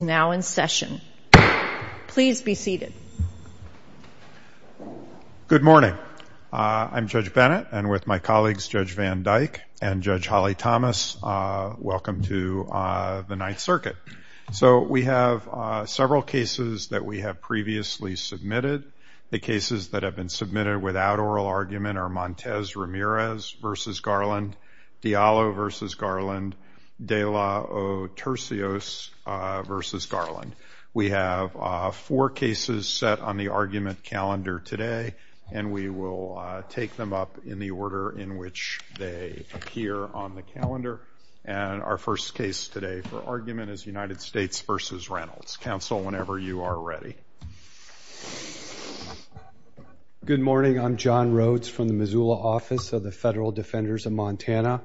Now in session. Please be seated. Good morning. I'm Judge Bennett and with my colleagues, Judge Van Dyke and Judge Holly Thomas. Welcome to the Ninth Circuit. So we have several cases that we have previously submitted. The cases that have been submitted without oral argument are Montez Ramirez v. Garland, Diallo v. Garland, De La Otercios v. Garland. We have four cases set on the argument calendar today and we will take them up in the order in which they appear on the calendar. And our first case today for argument is United States v. Reynolds. Counsel, whenever you are ready. Good morning. I'm John Rhodes from the Missoula office of the Federal Defenders of Montana.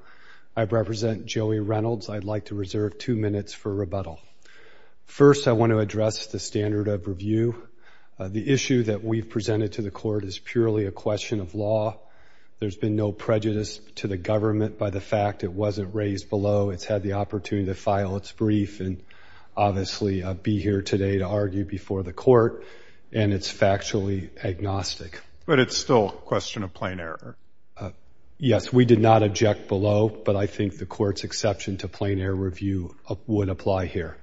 I represent Joey Reynolds. I'd like to reserve two minutes for rebuttal. First, I want to address the standard of review. The issue that we've presented to the court is purely a question of law. There's been no prejudice to the government by the fact it wasn't raised below. It's had the opportunity to file its brief and obviously be here today to argue before the court. And it's factually agnostic. But it's still a question of plain error. Yes, we did not object below. But I think the court's exception to plain error review would apply here.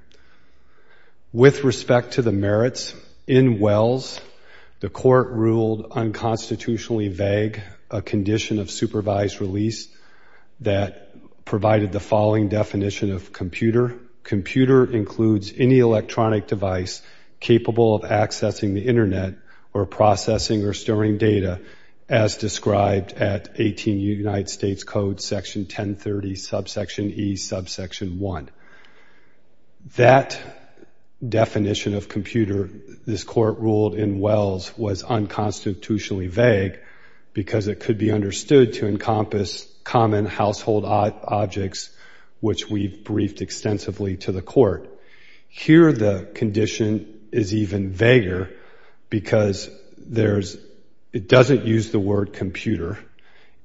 With respect to the merits, in Wells, the court ruled unconstitutionally vague a condition of supervised release that provided the following definition of computer. Computer includes any electronic device capable of accessing the Internet or processing or storing data as described at 18 United States Code Section 1030, subsection E, subsection 1. That definition of computer this court ruled in Wells was unconstitutionally vague because it could be understood to encompass common household objects, which we've briefed extensively to the court. Here the condition is even vaguer because there's it doesn't use the word computer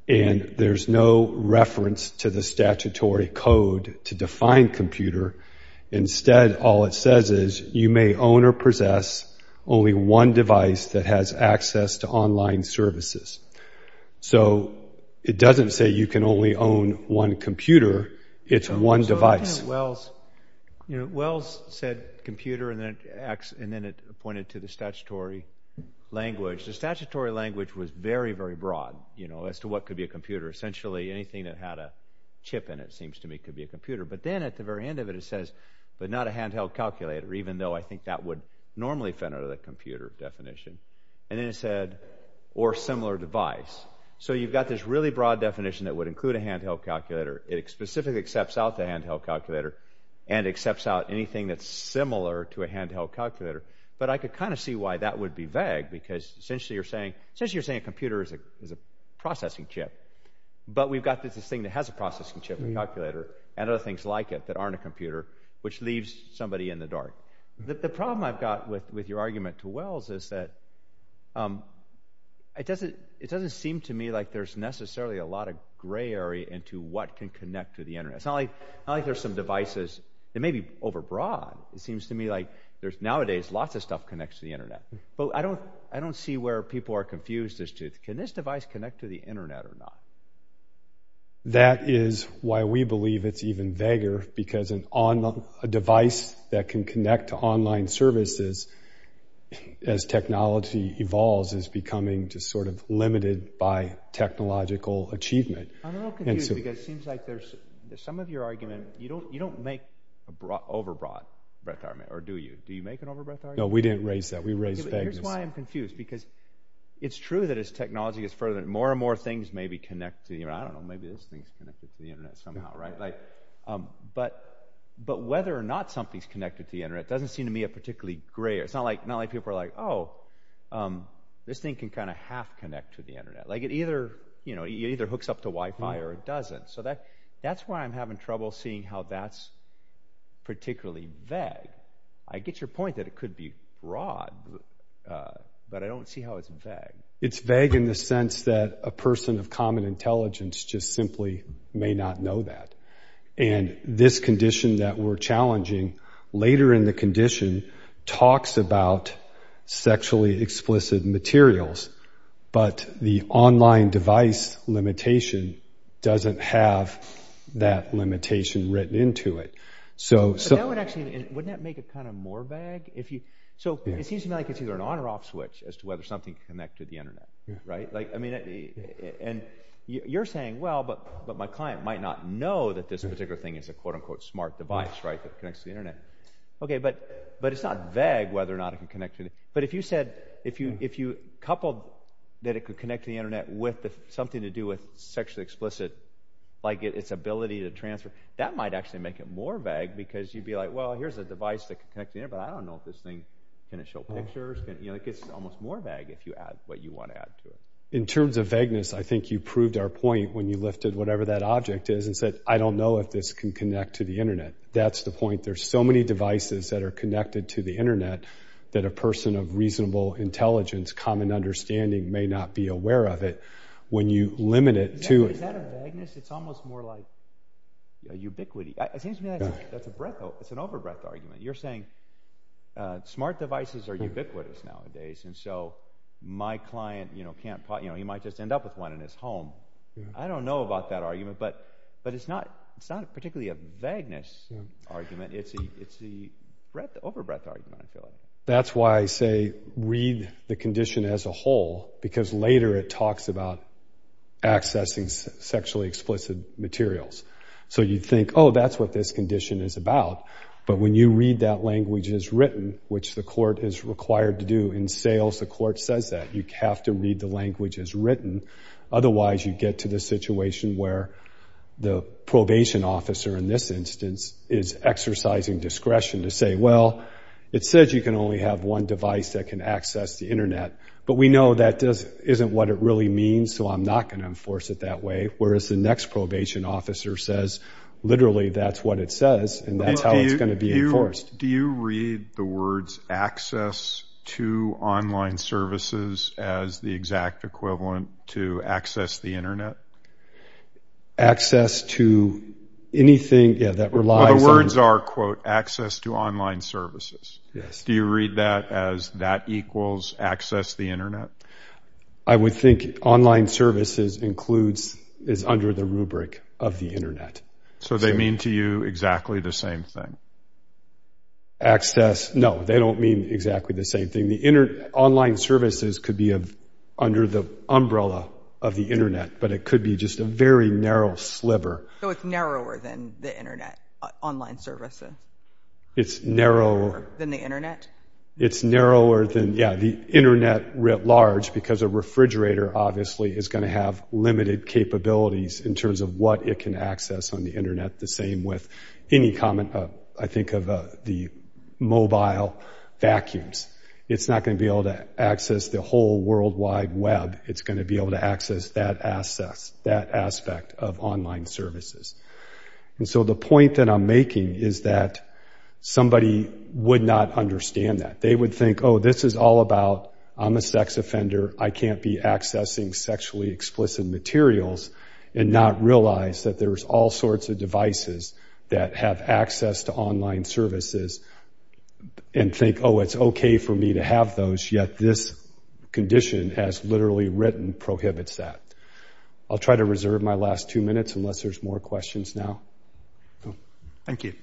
and there's no reference to the statutory code to define computer. Instead, all it says is you may own or possess only one device that has access to online services. So it doesn't say you can only own one computer. It's one device. Well, you know, Wells said computer and then it acts and then it pointed to the statutory language. The statutory language was very, very broad, you know, as to what could be a computer. Essentially, anything that had a chip in it seems to me could be a computer. But then at the very end of it, it says, but not a handheld calculator, even though I think that would normally fit under the computer definition. And then it said, or similar device. So you've got this really broad definition that would include a handheld calculator. It specifically accepts out the handheld calculator and accepts out anything that's similar to a handheld calculator. But I could kind of see why that would be vague because essentially you're saying, since you're saying a computer is a processing chip, but we've got this thing that has a processing chip, a calculator and other things like it that aren't a computer, which leaves somebody in the dark. The problem I've got with your argument to Wells is that it doesn't, it doesn't seem to me like there's necessarily a lot of gray area into what can connect to the internet. It's not like there's some devices that may be overbroad. It seems to me like there's nowadays, lots of stuff connects to the internet. But I don't, I don't see where people are confused as to can this device connect to the internet or not? That is why we believe it's even vaguer because an on a device that can connect to online services, as technology evolves is becoming just sort of limited by technological achievement. I'm a little confused because it seems like there's some of your argument, you don't, you don't make a broad, overbroad breadth argument, or do you? Do you make an overbred? No, we didn't raise that we raised. Here's why I'm confused. Because it's true that as technology is further, more and more things may be connected to you. I don't know, maybe this thing's connected to the internet somehow, right? Like, but, but whether or not something's connected to the internet doesn't seem to me a particularly gray. It's not like not like people are like, Oh, this thing can kind of half connect to the internet, like it either, you know, either hooks up to Wi Fi, or it doesn't. So that, that's why I'm having trouble seeing how that's particularly vague. I get your point that it could be broad. But I don't see how it's vague. It's vague in the sense that a person of common intelligence just simply may not know that. And this condition that we're challenging later in the condition talks about sexually explicit materials. But the online device limitation doesn't have that limitation written into it. So, so it would actually, wouldn't that make it kind of more vague if you so it seems to me like it's either an on or off switch as to whether something connected the internet, right? Like, I mean, and you're saying, well, but, but my client might not know that this particular thing is a quote, unquote, smart device, right? That connects to the internet. Okay, but, but it's not vague whether or not it can connect to it. But if you said if you if you coupled that it could connect to the internet with something to do with sexually explicit, like its ability to transfer, that might actually make it more vague because you'd be like, well, here's a device that can connect the internet, but I don't know if this thing can show pictures and you know, it gets almost more vague if you add what you want to add to it. In terms of vagueness, I think you proved our point when you lifted whatever that object is and said, I don't know if this can connect to the internet. That's the point. There's so many devices that are connected to the internet, that a person of reasonable intelligence, common understanding may not be aware of it. When you limit it to it's almost more like ubiquity. It seems to me that's a breath. It's an overbreath argument. You're saying smart devices are ubiquitous nowadays. And so my client, you know, can't pot, you know, he might just end up with one in his home. I don't know about that argument. But, but it's not, it's not particularly a vagueness argument. It's the it's the breath overbreath argument. That's why I say read the condition as a whole, because later it talks about accessing sexually explicit materials. So you'd think, oh, that's what this condition is about. But when you read that language as written, which the court is required to do in sales, the court says that you have to read the language as written. Otherwise, you get to the situation where the probation officer in this instance is exercising discretion to say, well, it says you can only have one device that can access the internet. But we know that isn't what it really means. So I'm not going to enforce it that way. Whereas the next probation officer says, literally, that's what it says. And that's how it's going to be enforced. Do you read the words access to online services as the exact equivalent to access the internet? Access to anything that relies on the words are quote access to online services. Yes. Do you read that as that equals access the internet? I would think online services includes is under the rubric of the internet. So they mean to you exactly the same thing? Access? No, they don't mean exactly the same thing. The internet online services could be under the umbrella of the internet, but it could be just a very narrow sliver. So it's narrower than the internet, online services. It's narrower than the internet. It's narrower than yeah, the internet writ large, because a refrigerator obviously is going to have limited capabilities in terms of what it can access on the internet. The same with any common, I think of the mobile vacuums, it's not going to be able to access the whole worldwide web, it's going to be able to access that access that aspect of online services. And so the point that I'm making is that somebody would not understand that they would think, oh, this is all about, I'm a sex offender, I can't be accessing sexually explicit materials, and not realize that there's all sorts of devices that have access to online services. And think, oh, it's okay for me to have those yet this condition has literally written prohibits that. I'll try to reserve my last two minutes unless there's more questions now. Thank you.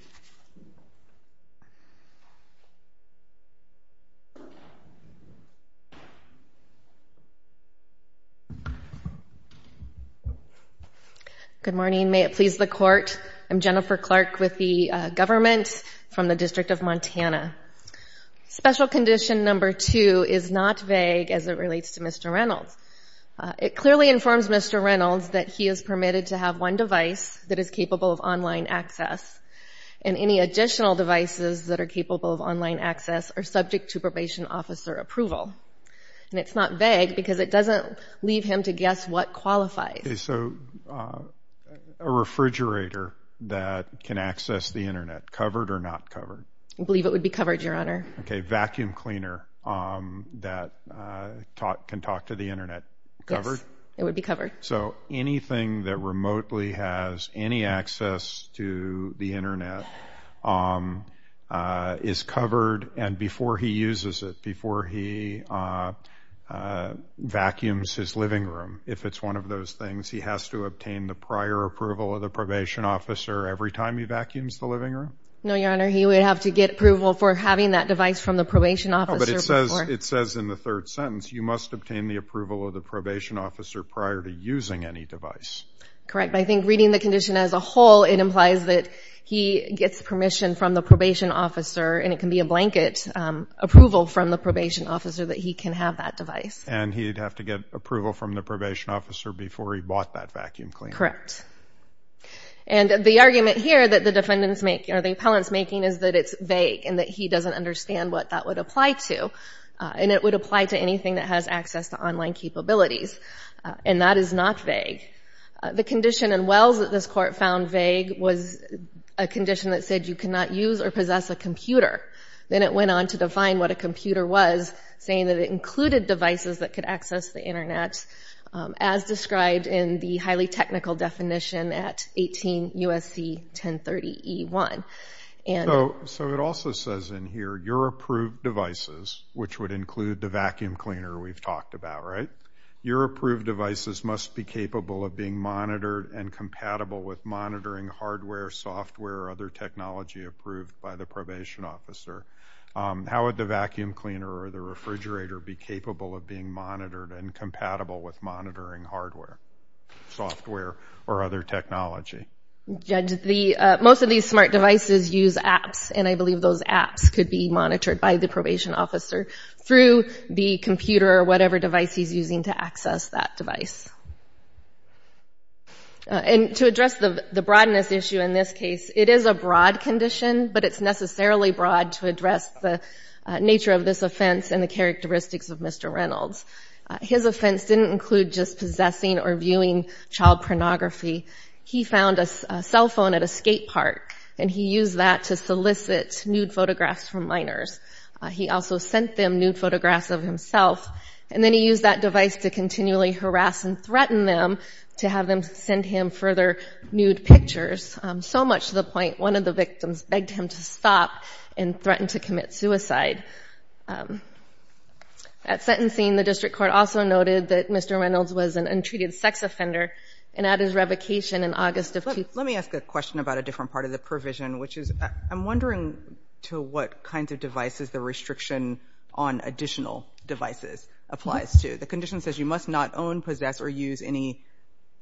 Good morning, may it please the court. I'm Jennifer Clark with the government from the District of Montana. Special condition number two is not vague as it relates to Mr. Reynolds. It clearly informs Mr. Reynolds that he is permitted to have one device that is capable of online access, and any additional devices that are capable of online access are subject to probation officer approval. And it's not vague because it doesn't leave him to guess what qualifies. Is a refrigerator that can access the internet covered or not covered? I believe it would be covered, Your Honor. Okay, vacuum cleaner that can talk to the internet, covered? It would be covered. So anything that remotely has any access to the internet is covered. And before he uses it, before he vacuums his living room, if it's one of those things, he has to obtain the prior approval of the probation officer every time he vacuums the living room. No, Your Honor, he would have to get approval for having that device from the probation officer. It says in the third sentence, you must obtain the approval of using any device. Correct. I think reading the condition as a whole, it implies that he gets permission from the probation officer, and it can be a blanket approval from the probation officer that he can have that device. And he'd have to get approval from the probation officer before he bought that vacuum cleaner. Correct. And the argument here that the defendants make, or the appellants making, is that it's vague and that he doesn't understand what that would apply to. And it would apply to anything that has access to online capabilities. And that is not vague. The condition in Wells that this court found vague was a condition that said you cannot use or possess a computer. Then it went on to define what a computer was, saying that it included devices that could access the Internet, as described in the highly technical definition at 18 U.S.C. 1030E1. So it also says in here, your approved devices, which would include the vacuum cleaner we've talked about, right? Your approved devices must be capable of being monitored and compatible with monitoring hardware, software, or other technology approved by the probation officer. How would the vacuum cleaner or the refrigerator be capable of being monitored and compatible with monitoring hardware, software, or other technology? Judge, most of these smart devices use apps, and I believe those apps could be monitored by the probation officer through the computer or whatever device he's using to access that device. And to address the broadness issue in this case, it is a broad condition, but it's necessarily broad to address the nature of this offense and the characteristics of Mr. Reynolds. His offense didn't include just possessing or viewing child pornography. He found a cell phone at a skate park, and he used that to solicit nude photographs from minors. He also sent them nude photographs of himself, and then he used that device to continually harass and threaten them to have them send him further nude pictures. So much to the point, one of the victims begged him to stop and threatened to commit suicide. At sentencing, the district court also noted that Mr. Reynolds was an untreated sex offender, and at his revocation in August of 20- Let me ask a question about a different part of the provision, which is, I'm wondering to what kinds of devices the restriction on additional devices applies to. The condition says you must not own, possess, or use any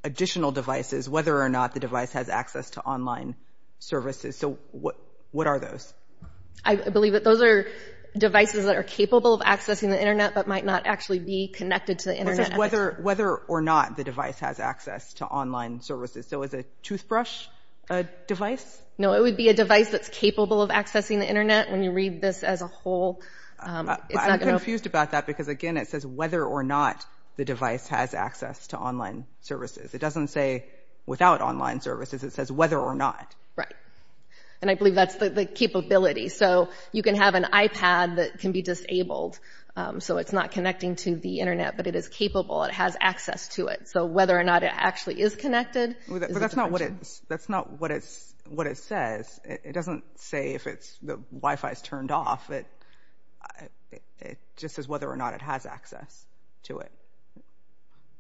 additional devices, whether or not the device has access to online services. So what are those? I believe that those are devices that are capable of accessing the internet, but might not actually be connected to the internet. It says whether or not the device has access to online services. So is a toothbrush a device? No, it would be a device that's capable of accessing the internet when you read this as a whole. I'm confused about that, because again, it says whether or not the device has access to online services. It doesn't say without online services, it says whether or not. Right. And I believe that's the capability. So you can have an iPad that can be disabled. So it's not connecting to the internet, but it is capable, it has access to it. So whether or not it actually is connected- Well, that's not what it's, that's not what it's, what it just says whether or not it has access to it.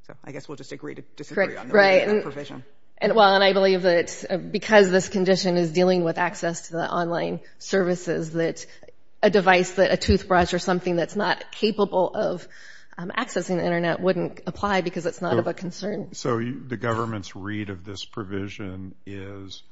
So I guess we'll disagree to disagree on the provision. And well, and I believe that because this condition is dealing with access to the online services, that a device that a toothbrush or something that's not capable of accessing the internet wouldn't apply because it's not of a concern. So the government's read of this provision is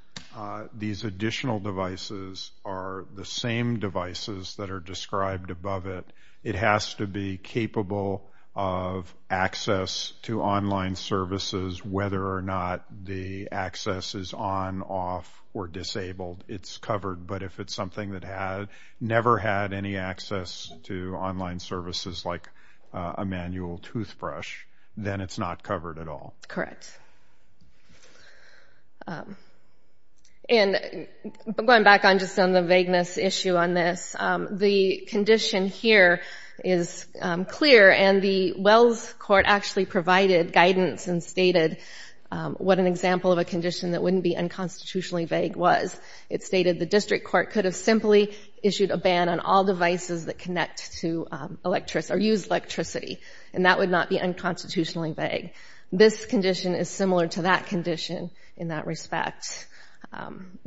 these additional devices are the same devices that are described above it. It has to be capable of access to online services, whether or not the access is on, off, or disabled, it's covered. But if it's something that had never had any access to online services, like a manual toothbrush, then it's not covered at all. Correct. And going back on just on the vagueness issue on this, the condition here is clear. And the Wells Court actually provided guidance and stated what an example of a condition that wouldn't be unconstitutionally vague was. It stated the district court could have simply issued a ban on all devices that connect to electricity or use electricity, and that would not be unconstitutionally vague. This condition is similar to that condition in that respect.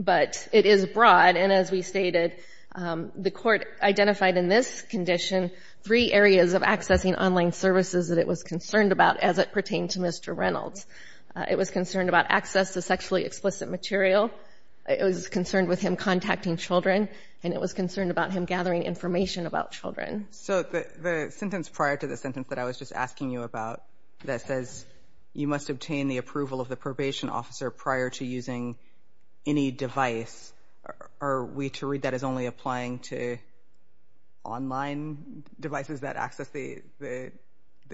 But it is broad. And as we stated, the court identified in this condition, three areas of accessing online services that it was concerned about as it pertained to Mr. Reynolds. It was concerned about access to sexually explicit material, it was concerned with him contacting children, and it was concerned about him gathering information So the sentence prior to the sentence that I was just asking you about, that says, you must obtain the approval of the probation officer prior to using any device, are we to read that as only applying to online devices that access the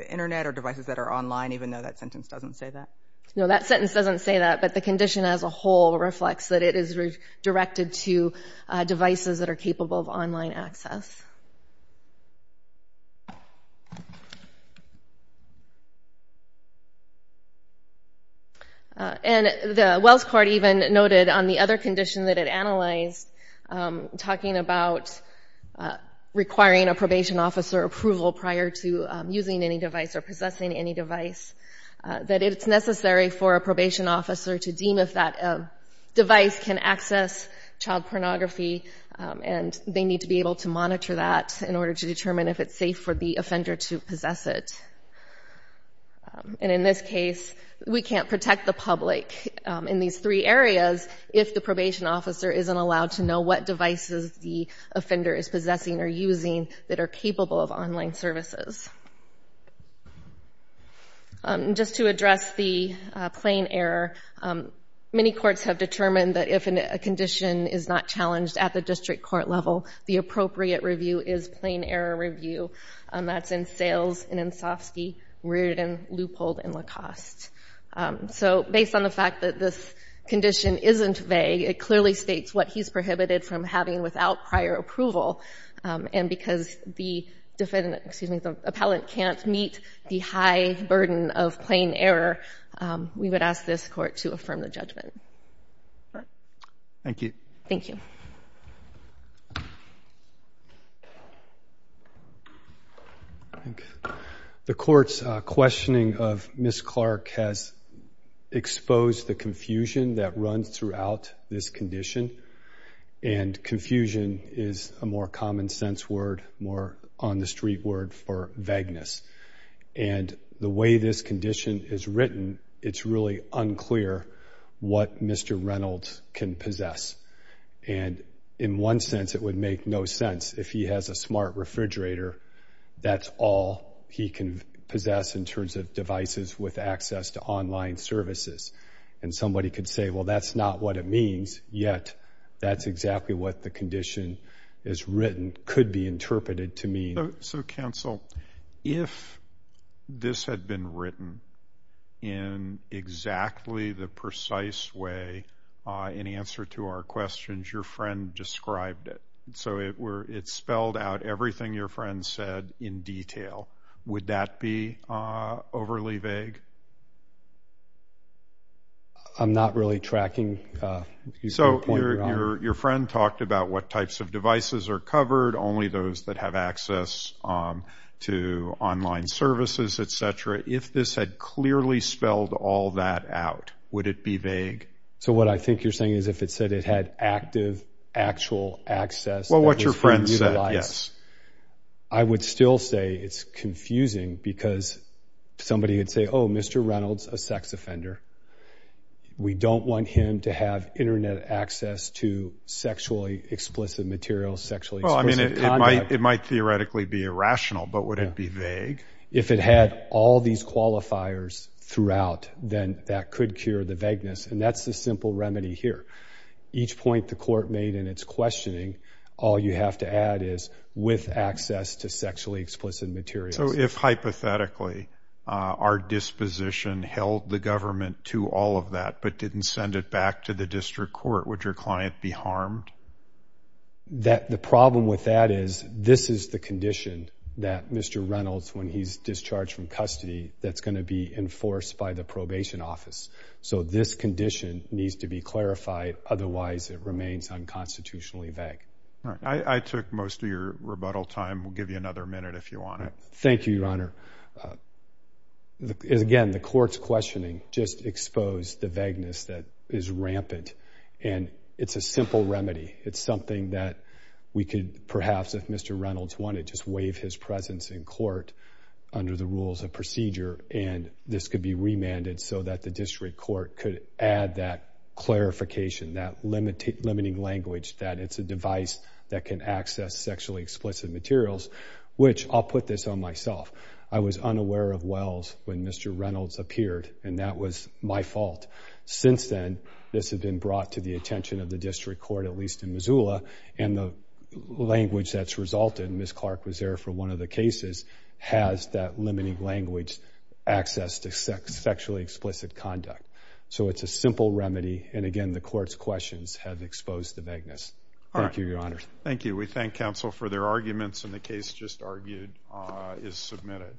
internet or devices that are online, even though that sentence doesn't say that? No, that sentence doesn't say that. But the condition as a whole reflects that it is directed to devices that are capable of online access. And the Wells Court even noted on the other condition that it analyzed, talking about requiring a probation officer approval prior to using any device or possessing any device, that it's necessary for a probation officer to deem if that device can access child pornography, and they need to be able to monitor that in order to determine if it's safe for the child. And in this case, we can't protect the public in these three areas if the probation officer isn't allowed to know what devices the offender is possessing or using that are capable of online services. Just to address the plain error, many courts have determined that if a condition is not challenged at the district court level, the appropriate review is plain error review. That's in Sales, in Ansofsky, Reardon, Leupold, and Lacoste. So based on the fact that this condition isn't vague, it clearly states what he's prohibited from having without prior approval. And because the defendant, excuse me, the appellant can't meet the high burden of plain error, we would ask this Court to affirm the judgment. Thank you. Thank you. The Court's questioning of Ms. Clark has exposed the confusion that runs throughout this condition. And confusion is a more common sense word, more on the street word for vagueness. And the way this condition is written, it's really unclear what Mr. Reynolds can possess. And in one sense, it would make no sense. If he has a smart refrigerator, that's all he can possess in terms of devices with access to online services. And somebody could say, well, that's not what it means. Yet, that's exactly what the condition is written, could be interpreted to mean. So counsel, if this had been written in exactly the precise way in answer to our questions, your friend described it. So it spelled out everything your friend said in detail. Would that be overly vague? I'm not really tracking. So your friend talked about what types of devices are covered, only those that have access to online services, et cetera. If this had clearly spelled all that out, would it be vague? So what I think you're saying is if it said it had active, actual access. Well, what your friend said, yes. I would still say it's confusing because somebody would say, oh, Mr. Reynolds, a sex offender. We don't want him to have internet access to sexually explicit material, sexually explicit conduct. It might theoretically be irrational, but would it be vague? If it had all these qualifiers throughout, then that could cure the vagueness. And that's the simple remedy here. Each point the court made in its questioning, all you have to add is with access to sexually explicit material. So if hypothetically our disposition held the government to all of that, but didn't send it back to the district court, would your client be harmed? That the problem with that is this is the condition that Mr. Reynolds, when he's discharged from custody, that's going to be enforced by the probation office. So this condition needs to be unconstitutionally vague. All right. I took most of your rebuttal time. We'll give you another minute if you want it. Thank you, Your Honor. Again, the court's questioning just exposed the vagueness that is rampant. And it's a simple remedy. It's something that we could perhaps, if Mr. Reynolds wanted, just waive his presence in court under the rules of procedure, and this could be remanded so that the district court could add that clarification, that limiting language that it's a device that can access sexually explicit materials, which I'll put this on myself. I was unaware of Wells when Mr. Reynolds appeared, and that was my fault. Since then, this has been brought to the attention of the district court, at least in Missoula, and the language that's resulted, Ms. Clark was there for one of the cases, has that limiting language, access to sexually explicit conduct. So it's a simple remedy. And again, the court's questions have exposed the vagueness. Thank you, Your Honor. Thank you. We thank counsel for their arguments, and the case just argued is submitted.